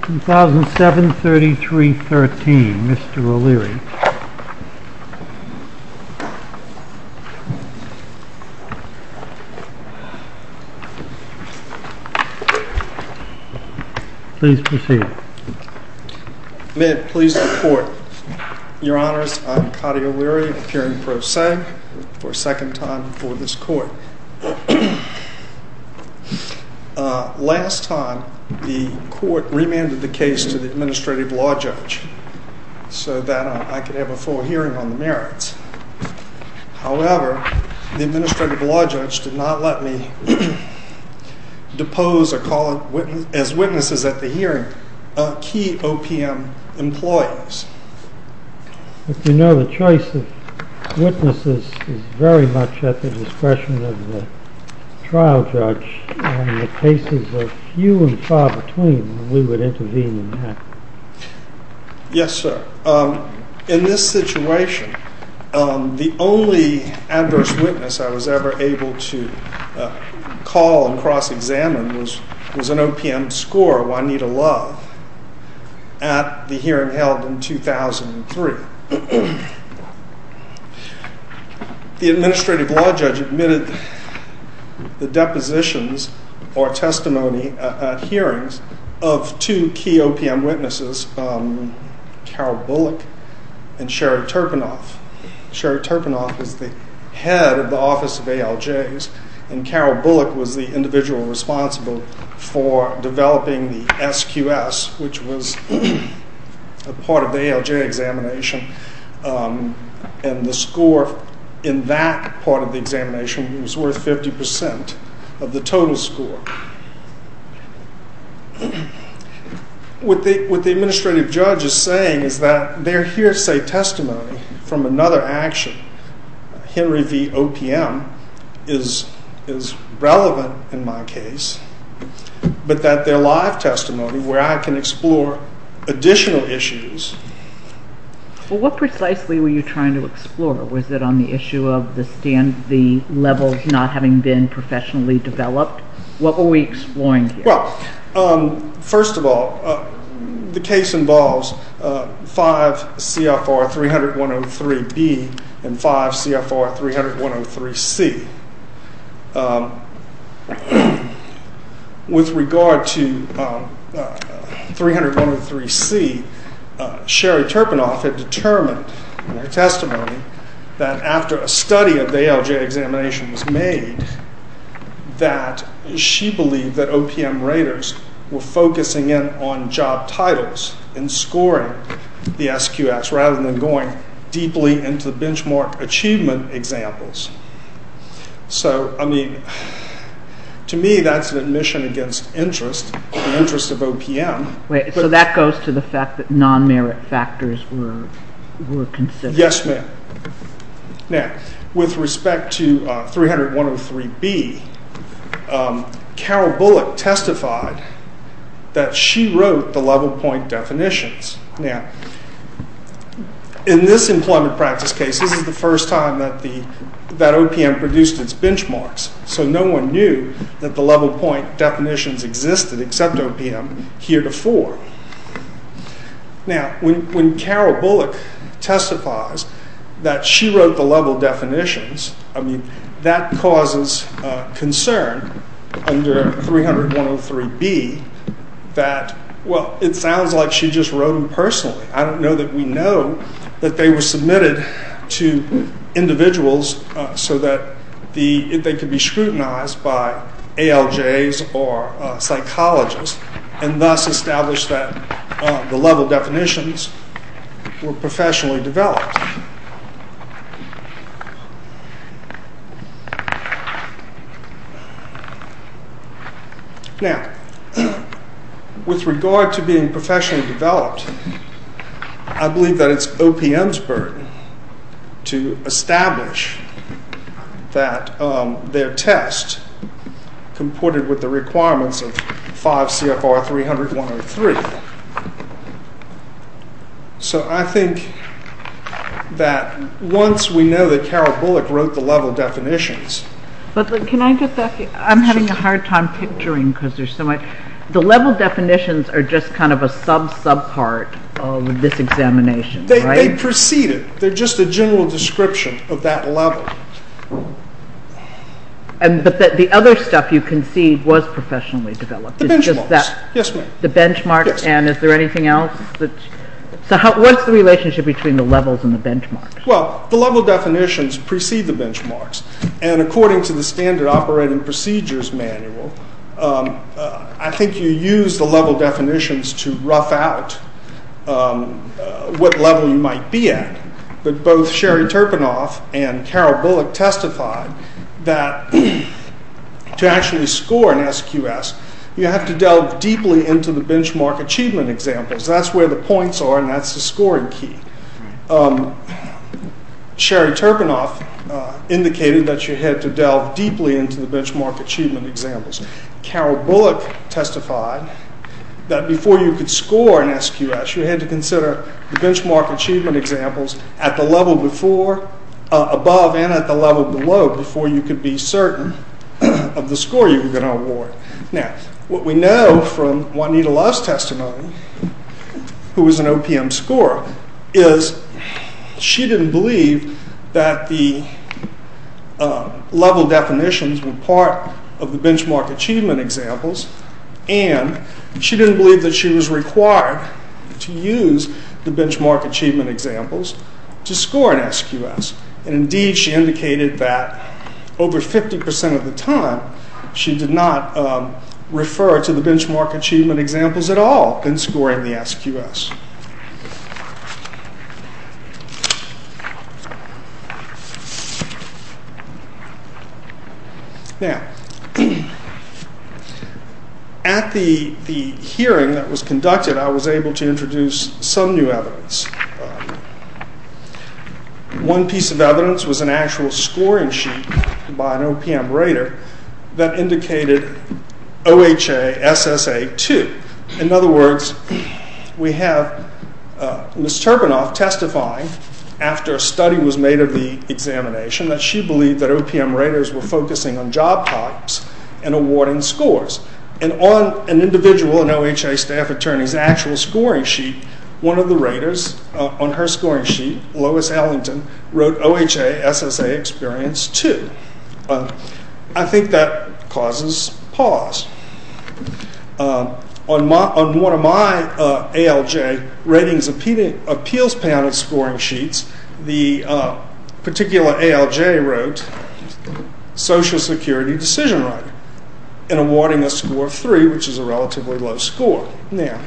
2007-3313, Mr. O'Leary, please proceed. May it please the Court, Your Honors, I'm Cotty O'Leary, appearing pro se for a second time before this Court. Last time, the Court remanded the case to the Administrative Law Judge so that I could have a full hearing on the merits. However, the Administrative Law Judge did not let me depose or call as witnesses at the hearing key OPM employees. But you know the choice of witnesses is very much at the discretion of the trial judge, and the cases are few and far between when we would intervene in that. Yes, sir. In this situation, the only adverse witness I was ever able to call and cross-examine was an OPM scorer, Juanita Love, at the hearing held in 2003. The Administrative Law Judge admitted the depositions or testimony at hearings of two key OPM witnesses, Carol Bullock and Sherry Turpinoff. Sherry Turpinoff is the head of the Office of ALJs, and Carol Bullock was the individual responsible for developing the SQS, which was a part of the ALJ examination. And the score in that part of the examination was worth 50% of the total score. What the Administrative Judge is saying is that their hearsay testimony from another action, Henry v. OPM, is relevant in my case, but that their live testimony, where I can explore additional issues… Well, what precisely were you trying to explore? Was it on the issue of the levels not having been professionally developed? What were we exploring here? Well, first of all, the case involves 5 CFR 300-103B and 5 CFR 300-103C. With regard to 300-103C, Sherry Turpinoff had determined in her testimony that after a study of the ALJ examination was made, that she believed that OPM raters were focusing in on job titles and scoring the SQS rather than going deeply into the benchmark achievement examples. So, I mean, to me that's an admission against interest, in the interest of OPM. Wait, so that goes to the fact that non-merit factors were considered? Yes, ma'am. Now, with respect to 300-103B, Carol Bullock testified that she wrote the level point definitions. Now, in this employment practice case, this is the first time that OPM produced its benchmarks, so no one knew that the level point definitions existed except OPM heretofore. Now, when Carol Bullock testifies that she wrote the level definitions, I mean, that causes concern under 300-103B that, well, it sounds like she just wrote them personally. I don't know that we know that they were submitted to individuals so that they could be scrutinized by ALJs or psychologists and thus establish that the level definitions were professionally developed. Now, with regard to being professionally developed, I believe that it's OPM's burden to establish that their test comported with the requirements of 5 CFR 300-103. So, I think that once we know that Carol Bullock wrote the level definitions... But, can I get that? I'm having a hard time picturing because there's so much. The level definitions are just kind of a sub-subpart of this examination, right? They preceded. They're just a general description of that level. But the other stuff you concede was professionally developed. The benchmarks. Yes, ma'am. And is there anything else? So, what's the relationship between the levels and the benchmarks? Well, the level definitions precede the benchmarks. And according to the standard operating procedures manual, I think you use the level definitions to rough out what level you might be at. But both Sherry Turpinoff and Carol Bullock testified that to actually score an SQS, you have to delve deeply into the benchmark achievement examples. That's where the points are and that's the scoring key. Sherry Turpinoff indicated that you had to delve deeply into the benchmark achievement examples. Carol Bullock testified that before you could score an SQS, you had to consider the benchmark achievement examples at the level above and at the level below before you could be certain of the score you were going to award. Now, what we know from Juanita Love's testimony, who was an OPM scorer, is she didn't believe that the level definitions were part of the benchmark achievement examples. And she didn't believe that she was required to use the benchmark achievement examples to score an SQS. And indeed, she indicated that over 50% of the time, she did not refer to the benchmark achievement examples at all in scoring the SQS. Now, at the hearing that was conducted, I was able to introduce some new evidence. One piece of evidence was an actual scoring sheet by an OPM rater that indicated OHA SSA 2. In other words, we have Ms. Turpinoff testifying after a study was made of the examination that she believed that OPM raters were focusing on job types and awarding scores. And on an individual, an OHA staff attorney's actual scoring sheet, one of the raters on her scoring sheet, Lois Ellington, wrote OHA SSA Experience 2. I think that causes pause. On one of my ALJ ratings appeals panel scoring sheets, the particular ALJ wrote Social Security Decision Writer, and awarding a score of 3, which is a relatively low score. Now,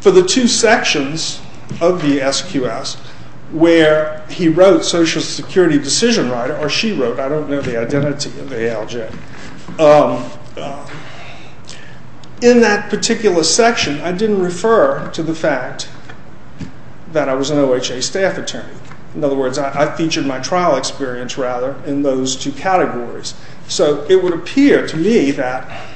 for the two sections of the SQS where he wrote Social Security Decision Writer, or she wrote, I don't know the identity of the ALJ, in that particular section, I didn't refer to the fact that I was an OHA staff attorney. In other words, I featured my trial experience, rather, in those two categories. So, it would appear to me that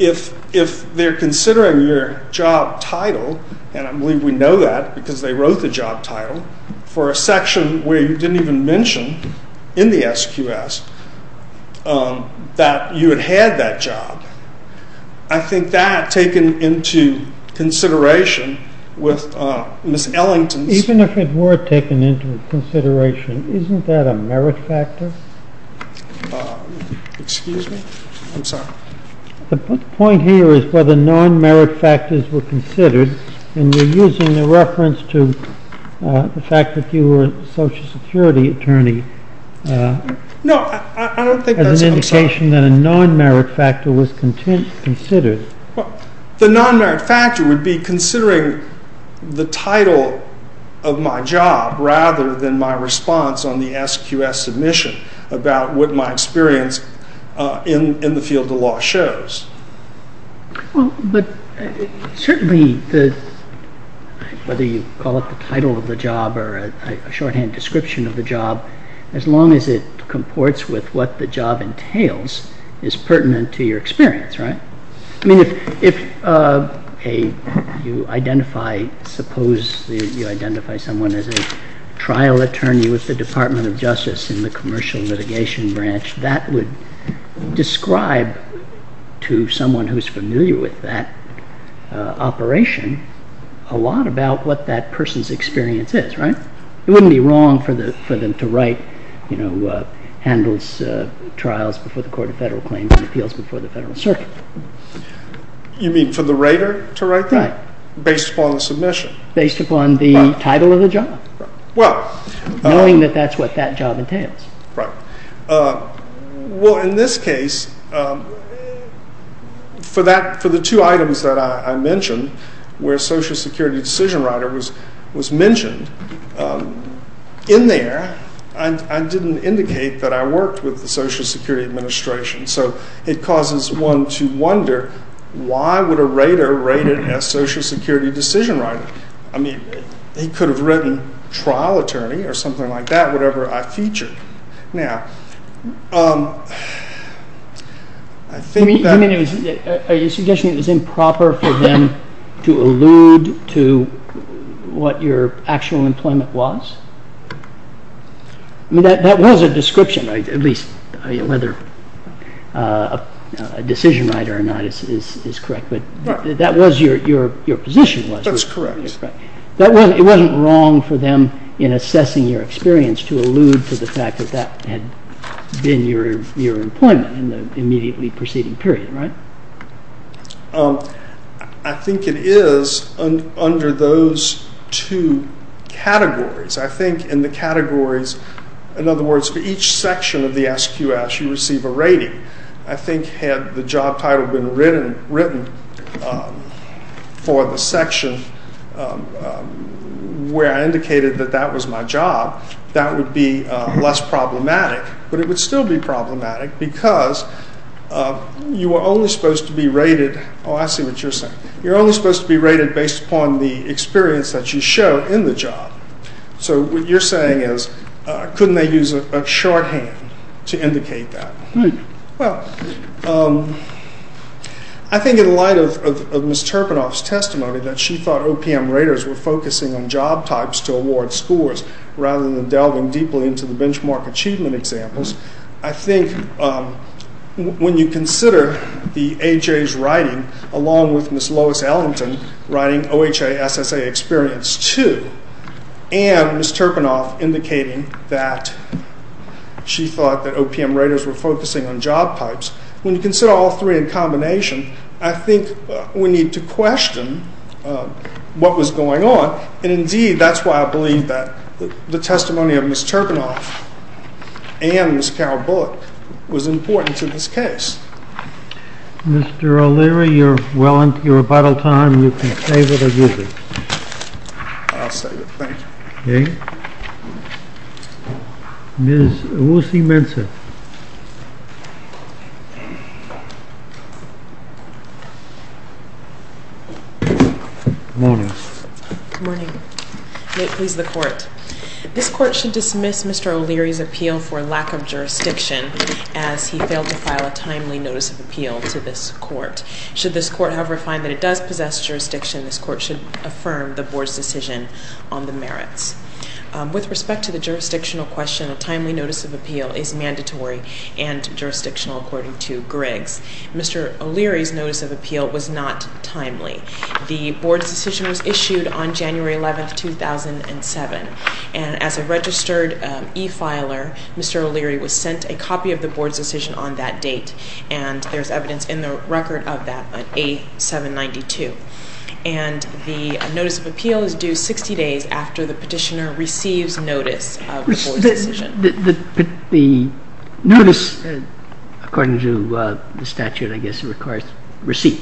if they're considering your job title, and I believe we know that because they wrote the job title, for a section where you didn't even mention in the SQS that you had had that job, I think that, taken into consideration with Ms. Ellington's… Excuse me. I'm sorry. The point here is whether non-merit factors were considered, and you're using the reference to the fact that you were a Social Security attorney. No, I don't think that's… As an indication that a non-merit factor was considered. The non-merit factor would be considering the title of my job, rather than my response on the SQS submission about what my experience in the field of law shows. Well, but certainly, whether you call it the title of the job or a shorthand description of the job, as long as it comports with what the job entails, is pertinent to your experience, right? I mean, if you identify, suppose you identify someone as a trial attorney with the Department of Justice in the commercial litigation branch, that would describe to someone who's familiar with that operation a lot about what that person's experience is, right? It wouldn't be wrong for them to write, you know, handles trials before the Court of Federal Claims and appeals before the Federal Circuit. You mean for the rater to write that? Right. Based upon the submission? Based upon the title of the job. Well… Knowing that that's what that job entails. Right. Well, in this case, for that, for the two items that I mentioned, where Social Security Decision Writer was mentioned, in there, I didn't indicate that I worked with the Social Security Administration. So it causes one to wonder, why would a rater rate it as Social Security Decision Writer? I mean, he could have written trial attorney or something like that, whatever I featured. Now, I think that… I mean, are you suggesting it was improper for them to allude to what your actual employment was? I mean, that was a description, right, at least, whether a decision writer or not is correct, but that was your position, wasn't it? That was correct. It wasn't wrong for them in assessing your experience to allude to the fact that that had been your employment in the immediately preceding period, right? I think it is under those two categories. I think in the categories, in other words, for each section of the SQS, you receive a rating. I think had the job title been written for the section where I indicated that that was my job, that would be less problematic, but it would still be problematic because you were only supposed to be rated… Oh, I see what you're saying. You're only supposed to be rated based upon the experience that you show in the job. So what you're saying is couldn't they use a shorthand to indicate that? Right. Well, I think in light of Ms. Turpinoff's testimony that she thought OPM raters were focusing on job types to award scores rather than delving deeply into the benchmark achievement examples, I think when you consider the AHA's writing along with Ms. Lois Ellington writing OHA SSA experience 2 and Ms. Turpinoff indicating that she thought that OPM raters were focusing on job types, when you consider all three in combination, I think we need to question what was going on. And indeed, that's why I believe that the testimony of Ms. Turpinoff and Ms. Carol Bullock was important to this case. Mr. O'Leary, you're well into your rebuttal time. You can save it or lose it. I'll save it. Thank you. Okay. Ms. Lucy Mensah. Morning. Morning. May it please the court. This court should dismiss Mr. O'Leary's appeal for lack of jurisdiction as he failed to file a timely notice of appeal to this court. Should this court, however, find that it does possess jurisdiction, this court should affirm the board's decision on the merits. With respect to the jurisdictional question, a timely notice of appeal is mandatory and jurisdictional according to Griggs. Mr. O'Leary's notice of appeal was not timely. The board's decision was issued on January 11, 2007, and as a registered e-filer, Mr. O'Leary was sent a copy of the board's decision on that date, and there's evidence in the record of that on A792. And the notice of appeal is due 60 days after the petitioner receives notice of the board's decision. The notice, according to the statute, I guess, requires receipt.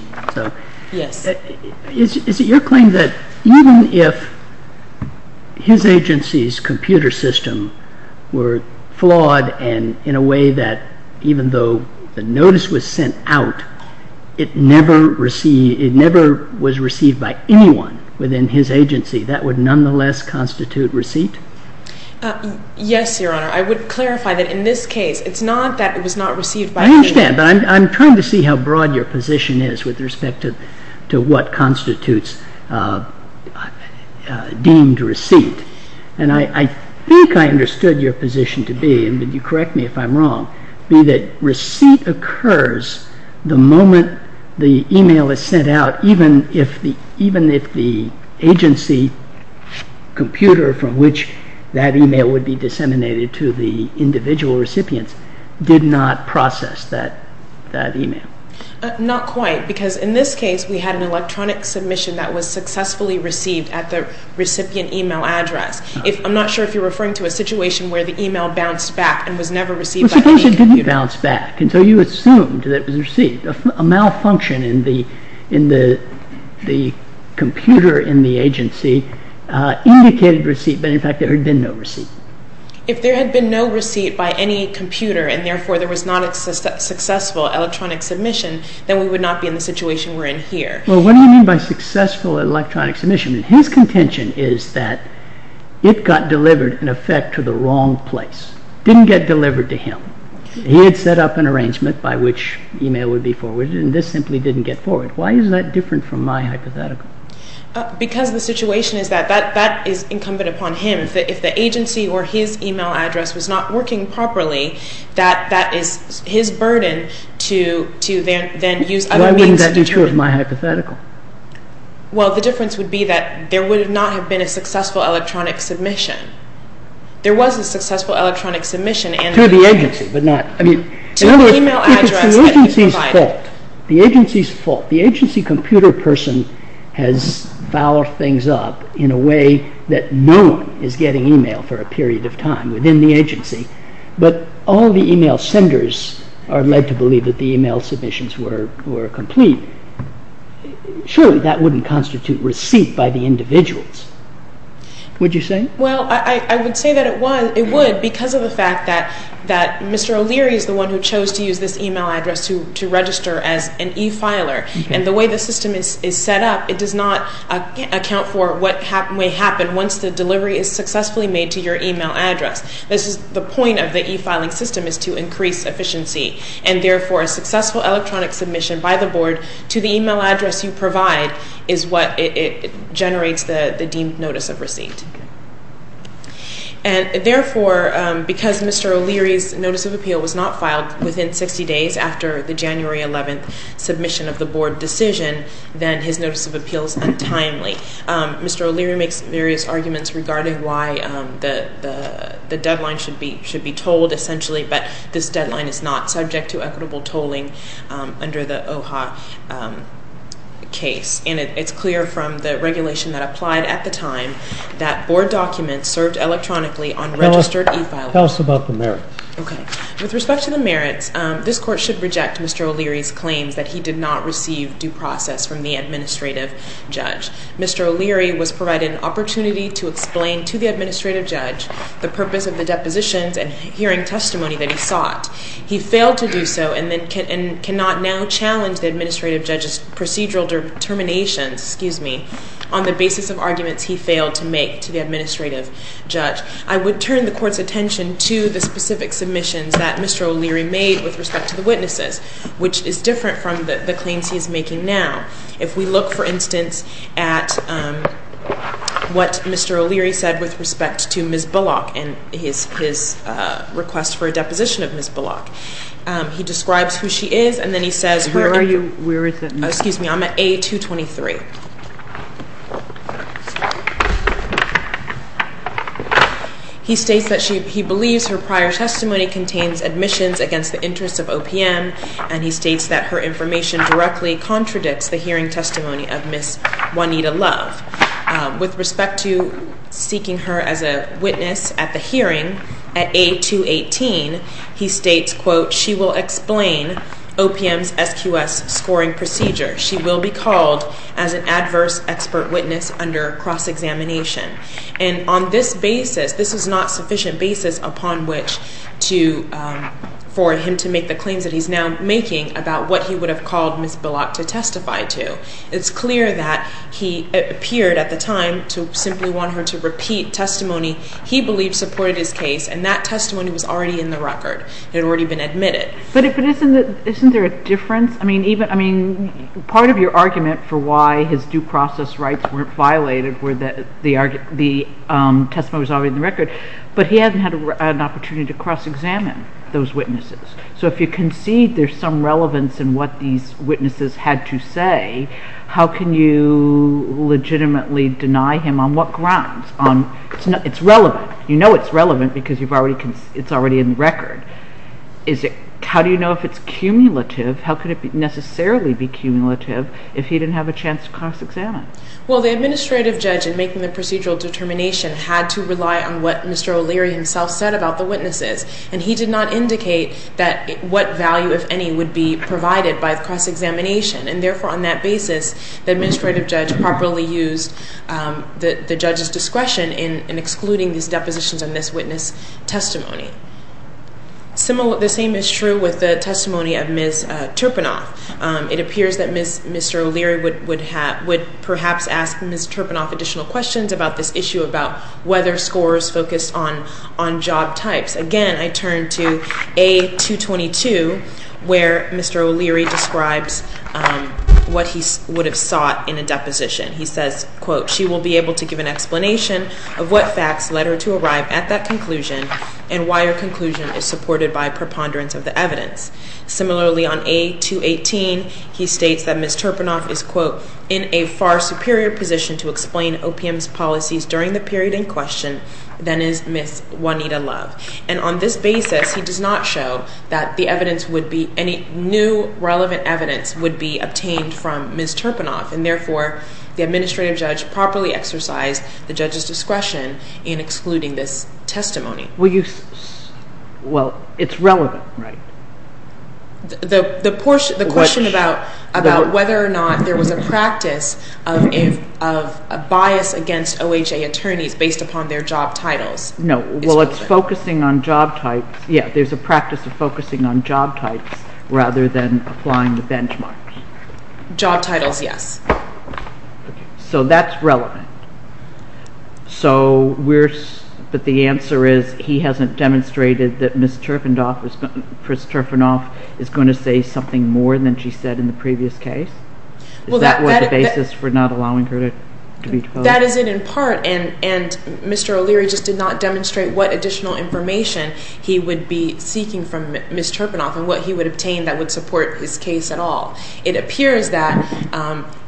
Yes. Is it your claim that even if his agency's computer system were flawed and in a way that even though the notice was sent out, it never was received by anyone within his agency, that would nonetheless constitute receipt? Yes, Your Honor. I would clarify that in this case, it's not that it was not received by anyone. I understand, but I'm trying to see how broad your position is with respect to what constitutes deemed receipt. And I think I understood your position to be, and would you correct me if I'm wrong, be that receipt occurs the moment the e-mail is sent out, even if the agency computer from which that e-mail would be disseminated to the individual recipients did not process that e-mail. Not quite, because in this case, we had an electronic submission that was successfully received at the recipient e-mail address. I'm not sure if you're referring to a situation where the e-mail bounced back and was never received by any computer. The situation didn't bounce back, and so you assumed that it was received. A malfunction in the computer in the agency indicated receipt, but in fact there had been no receipt. If there had been no receipt by any computer and therefore there was not a successful electronic submission, then we would not be in the situation we're in here. Well, what do you mean by successful electronic submission? His contention is that it got delivered, in effect, to the wrong place. It didn't get delivered to him. He had set up an arrangement by which e-mail would be forwarded, and this simply didn't get forwarded. Why is that different from my hypothetical? Because the situation is that that is incumbent upon him. If the agency or his e-mail address was not working properly, that is his burden to then use other means to determine. Why wouldn't that be true of my hypothetical? Well, the difference would be that there would not have been a successful electronic submission. There was a successful electronic submission. To the agency, but not... To the e-mail address that he provided. The agency's fault. The agency computer person has fouled things up in a way that no one is getting e-mail for a period of time within the agency, but all the e-mail senders are led to believe that the e-mail submissions were complete. Surely, that wouldn't constitute receipt by the individuals. Would you say? Well, I would say that it would because of the fact that Mr. O'Leary is the one who chose to use this e-mail address to register as an e-filer, and the way the system is set up, it does not account for what may happen once the delivery is successfully made to your e-mail address. The point of the e-filing system is to increase efficiency, and therefore a successful electronic submission by the board to the e-mail address you provide is what generates the deemed notice of receipt. And therefore, because Mr. O'Leary's notice of appeal was not filed within 60 days after the January 11th submission of the board decision, then his notice of appeal is untimely. Mr. O'Leary makes various arguments regarding why the deadline should be told essentially, but this deadline is not subject to equitable tolling under the OHA case. And it's clear from the regulation that applied at the time that board documents served electronically on registered e-filers. Tell us about the merits. Okay. With respect to the merits, this Court should reject Mr. O'Leary's claims that he did not receive due process from the administrative judge. Mr. O'Leary was provided an opportunity to explain to the administrative judge the purpose of the depositions and hearing testimony that he sought. He failed to do so and cannot now challenge the administrative judge's procedural determinations, excuse me, on the basis of arguments he failed to make to the administrative judge. I would turn the Court's attention to the specific submissions that Mr. O'Leary made with respect to the witnesses, which is different from the claims he is making now. If we look, for instance, at what Mr. O'Leary said with respect to Ms. Bullock and his request for a deposition of Ms. Bullock, he describes who she is and then he says her... Where are you? Where is that? Excuse me. I'm at A223. He states that he believes her prior testimony contains admissions against the interests of OPM, and he states that her information directly contradicts the hearing testimony of Ms. Juanita Love. With respect to seeking her as a witness at the hearing at A218, he states, quote, she will explain OPM's SQS scoring procedure. She will be called as an adverse expert witness under cross-examination. And on this basis, this is not sufficient basis upon which to... for him to make the claims that he's now making about what he would have called Ms. Bullock to testify to. It's clear that he appeared at the time to simply want her to repeat testimony he believed supported his case, and that testimony was already in the record. It had already been admitted. But isn't there a difference? Part of your argument for why his due process rights weren't violated, where the testimony was already in the record, but he hasn't had an opportunity to cross-examine those witnesses. So if you concede there's some relevance in what these witnesses had to say, how can you legitimately deny him? On what grounds? It's relevant. You know it's relevant because it's already in the record. How do you know if it's cumulative? How could it necessarily be cumulative if he didn't have a chance to cross-examine? Well, the administrative judge in making the procedural determination had to rely on what Mr. O'Leary himself said about the witnesses. And he did not indicate what value, if any, would be provided by cross-examination. And therefore, on that basis, the administrative judge properly used the judge's discretion in excluding these depositions and this witness testimony. The same is true with the testimony of Ms. Turpinoff. It appears that Mr. O'Leary would perhaps ask Ms. Turpinoff additional questions about this issue, about whether scores focused on job types. Again, I turn to A222, where Mr. O'Leary describes what he would have sought in a deposition. He says, quote, she will be able to give an explanation of what facts led her to arrive at that conclusion and why her conclusion is supported by preponderance of the evidence. Similarly, on A218, he states that Ms. Turpinoff is, quote, in a far superior position to explain OPM's policies during the period in question than is Ms. Juanita Love. And on this basis, he does not show that any new relevant evidence would be obtained from Ms. Turpinoff. And therefore, the administrative judge properly exercised the judge's discretion in excluding this testimony. Well, it's relevant, right? The question about whether or not there was a practice of bias against OHA attorneys based upon their job titles. No, well, it's focusing on job types. Yeah, there's a practice of focusing on job types rather than applying the benchmarks. Job titles, yes. So that's relevant. So we're – but the answer is he hasn't demonstrated that Ms. Turpinoff is going to say something more than she said in the previous case? Is that what the basis for not allowing her to be deposed? That is it in part. And Mr. O'Leary just did not demonstrate what additional information he would be seeking from Ms. Turpinoff and what he would obtain that would support his case at all. It appears that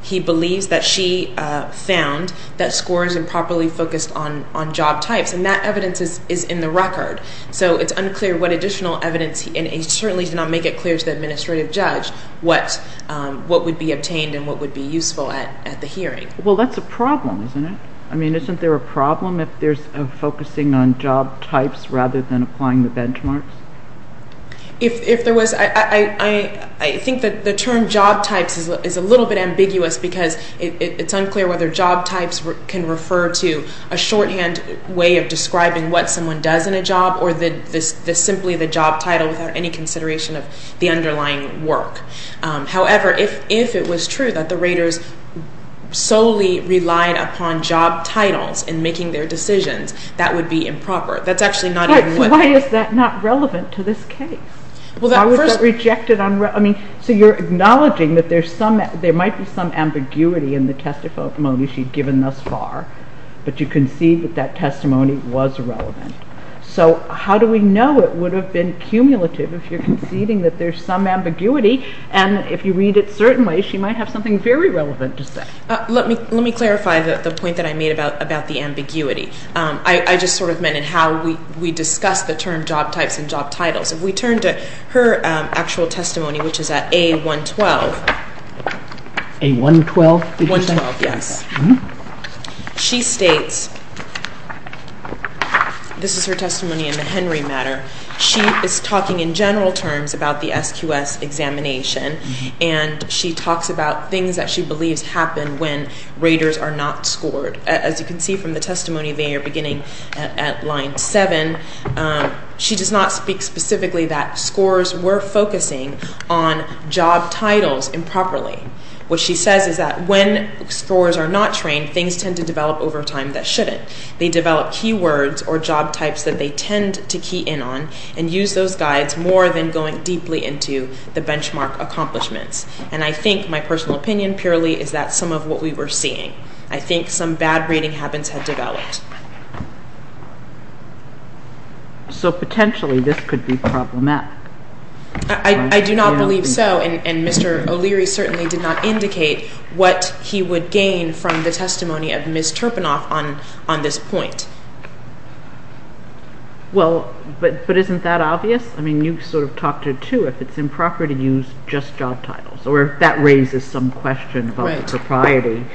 he believes that she found that scores improperly focused on job types, and that evidence is in the record. So it's unclear what additional evidence – and he certainly did not make it clear to the administrative judge what would be obtained and what would be useful at the hearing. Well, that's a problem, isn't it? I mean, isn't there a problem if there's a focusing on job types rather than applying the benchmarks? If there was, I think that the term job types is a little bit ambiguous because it's unclear whether job types can refer to a shorthand way of describing what someone does in a job or simply the job title without any consideration of the underlying work. However, if it was true that the raters solely relied upon job titles in making their decisions, that would be improper. That's actually not even what – Why is that not relevant to this case? Well, that first – Why was that rejected on – I mean, so you're acknowledging that there's some – there might be some ambiguity in the testimony she'd given thus far, but you concede that that testimony was relevant. So how do we know it would have been cumulative if you're conceding that there's some ambiguity and that if you read it certain ways, she might have something very relevant to say? Let me clarify the point that I made about the ambiguity. I just sort of meant in how we discuss the term job types and job titles. If we turn to her actual testimony, which is at A112. A112? 112, yes. She states – this is her testimony in the Henry matter. She is talking in general terms about the SQS examination, and she talks about things that she believes happen when raters are not scored. As you can see from the testimony there beginning at line seven, she does not speak specifically that scores were focusing on job titles improperly. What she says is that when scores are not trained, things tend to develop over time that shouldn't. They develop keywords or job types that they tend to key in on and use those guides more than going deeply into the benchmark accomplishments. And I think my personal opinion purely is that's some of what we were seeing. I think some bad rating habits had developed. So potentially this could be problematic. I do not believe so, and Mr. O'Leary certainly did not indicate what he would gain from the testimony of Ms. Turpinoff on this point. Well, but isn't that obvious? I mean, you sort of talked it too. If it's improper to use just job titles, or if that raises some question about the propriety,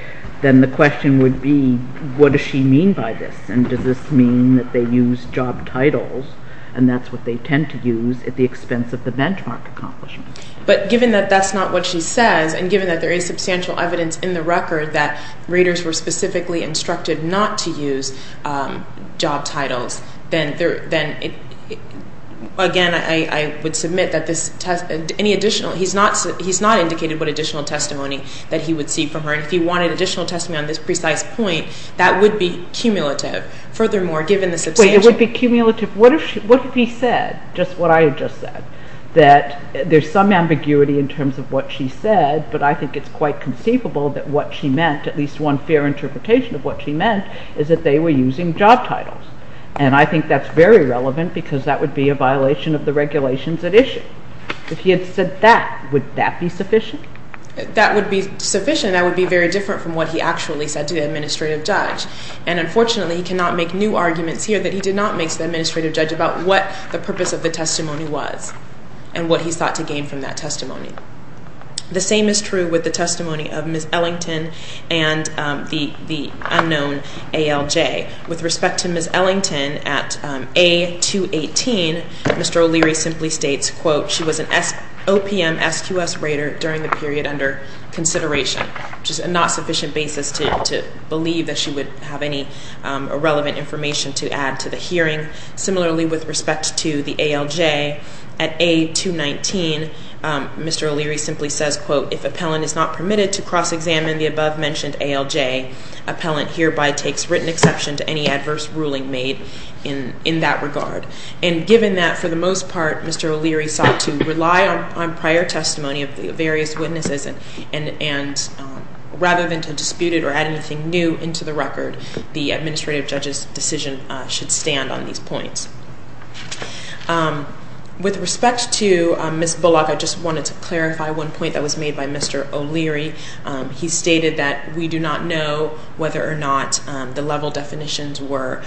then the question would be what does she mean by this, and does this mean that they use job titles, and that's what they tend to use at the expense of the benchmark accomplishments. But given that that's not what she says, and given that there is substantial evidence in the record that raters were specifically instructed not to use job titles, then, again, I would submit that he's not indicated what additional testimony that he would seek from her, and if he wanted additional testimony on this precise point, that would be cumulative. Furthermore, given the substantial... It would be cumulative. What if he said just what I had just said, that there's some ambiguity in terms of what she said, but I think it's quite conceivable that what she meant, at least one fair interpretation of what she meant, is that they were using job titles. And I think that's very relevant because that would be a violation of the regulations at issue. If he had said that, would that be sufficient? That would be sufficient. That would be very different from what he actually said to the administrative judge. And, unfortunately, he cannot make new arguments here that he did not make to the administrative judge about what the purpose of the testimony was and what he sought to gain from that testimony. The same is true with the testimony of Ms. Ellington and the unknown ALJ. With respect to Ms. Ellington, at A218, Mr. O'Leary simply states, she was an OPM-SQS raider during the period under consideration, which is a not sufficient basis to believe that she would have any relevant information to add to the hearing. Similarly, with respect to the ALJ, at A219, Mr. O'Leary simply says, quote, if appellant is not permitted to cross-examine the above-mentioned ALJ, appellant hereby takes written exception to any adverse ruling made in that regard. And given that, for the most part, Mr. O'Leary sought to rely on prior testimony of the various witnesses and rather than to dispute it or add anything new into the record, the administrative judge's decision should stand on these points. With respect to Ms. Bullock, I just wanted to clarify one point that was made by Mr. O'Leary. He stated that we do not know whether or not the level definitions were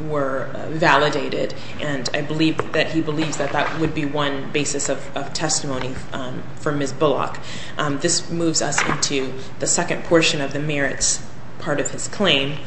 validated, and I believe that he believes that that would be one basis of testimony for Ms. Bullock. This moves us into the second portion of the merits part of his claim,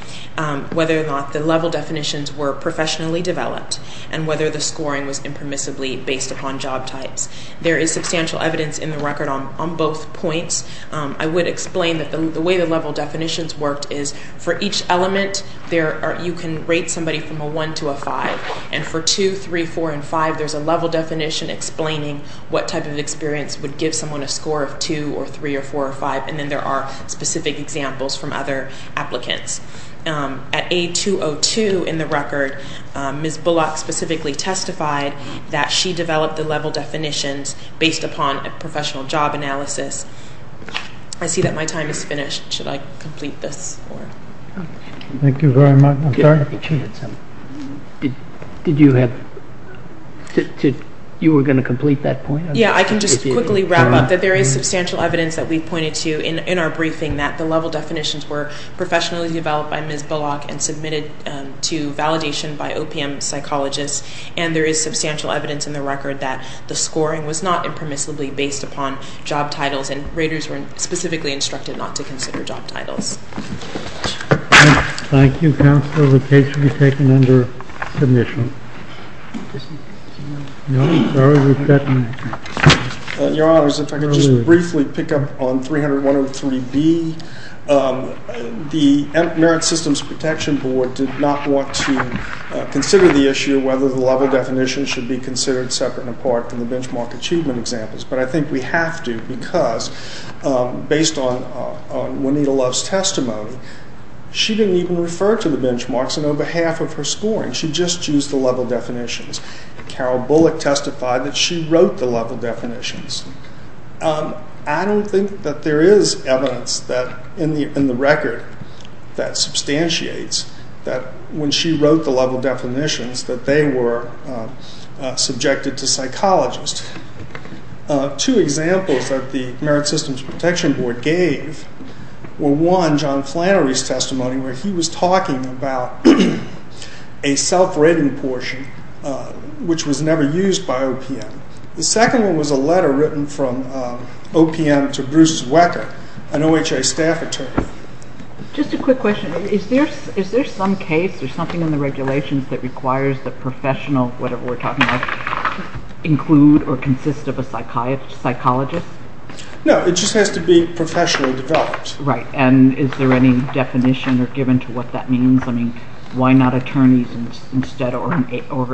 whether or not the level definitions were professionally developed and whether the scoring was impermissibly based upon job types. There is substantial evidence in the record on both points. I would explain that the way the level definitions worked is, for each element, you can rate somebody from a 1 to a 5, and for 2, 3, 4, and 5, there's a level definition explaining what type of experience would give someone a score of 2 or 3 or 4 or 5, and then there are specific examples from other applicants. At A202 in the record, Ms. Bullock specifically testified that she developed the level definitions based upon a professional job analysis. I see that my time is finished. Should I complete this? Thank you very much. You were going to complete that point? Yeah, I can just quickly wrap up. There is substantial evidence that we pointed to in our briefing that the level definitions were professionally developed by Ms. Bullock and submitted to validation by OPM psychologists, and there is substantial evidence in the record that the scoring was not impermissibly based upon job titles, and raters were specifically instructed not to consider job titles. Thank you, Counsel. The case will be taken under submission. Your Honor, if I could just briefly pick up on 3103B. The Merit Systems Protection Board did not want to consider the issue of whether the level definitions should be considered separate and apart from the benchmark achievement examples, but I think we have to because, based on Juanita Love's testimony, she didn't even refer to the benchmarks, and on behalf of her scoring, she just used the level definitions. Carol Bullock testified that she wrote the level definitions. I don't think that there is evidence in the record that substantiates that when she wrote the level definitions that they were subjected to psychologists. Two examples that the Merit Systems Protection Board gave were, one, John Flannery's testimony where he was talking about a self-rating portion which was never used by OPM. The second one was a letter written from OPM to Bruce Wecker, an OHA staff attorney. Just a quick question. Is there some case or something in the regulations that requires that professional, whatever we're talking about, include or consist of a psychologist? No, it just has to be professionally developed. Right. And is there any definition or given to what that means? I mean, why not attorneys instead or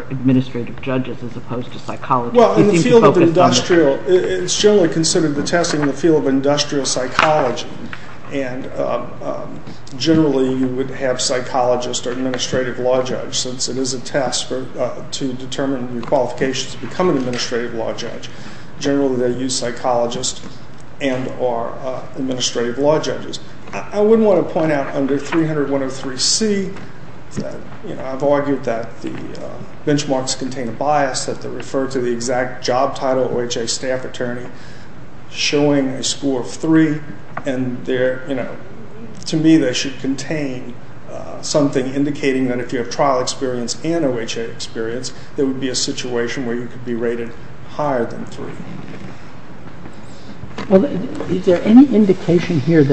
administrative judges as opposed to psychologists? Well, in the field of industrial, it's generally considered the testing in the field of industrial psychology, and generally you would have psychologist or administrative law judge since it is a test to determine your qualifications to become an administrative law judge. Generally, they use psychologist and are administrative law judges. I would want to point out under 300.103C, I've argued that the benchmarks contain a bias that they refer to the exact job title, OHA staff attorney, showing a score of 3, and to me they should contain something indicating that if you have trial experience and OHA experience, there would be a situation where you could be rated higher than 3. Well, is there any indication here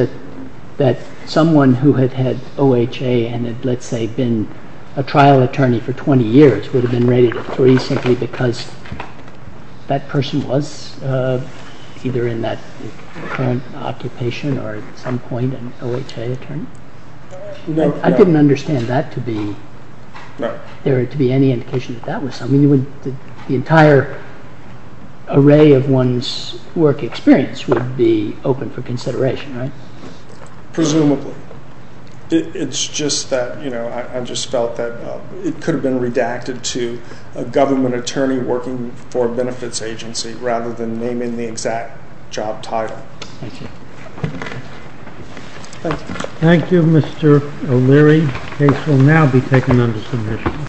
that someone who had had OHA and had, let's say, been a trial attorney for 20 years would have been rated 3 simply because that person was either in that current occupation or at some point an OHA attorney? I didn't understand that to be, there to be any indication that that was something. The entire array of one's work experience would be open for consideration, right? Presumably. It's just that, you know, I just felt that it could have been redacted to a government attorney working for a benefits agency rather than naming the exact job title. Thank you. Thank you, Mr. O'Leary. Case will now be taken under submission.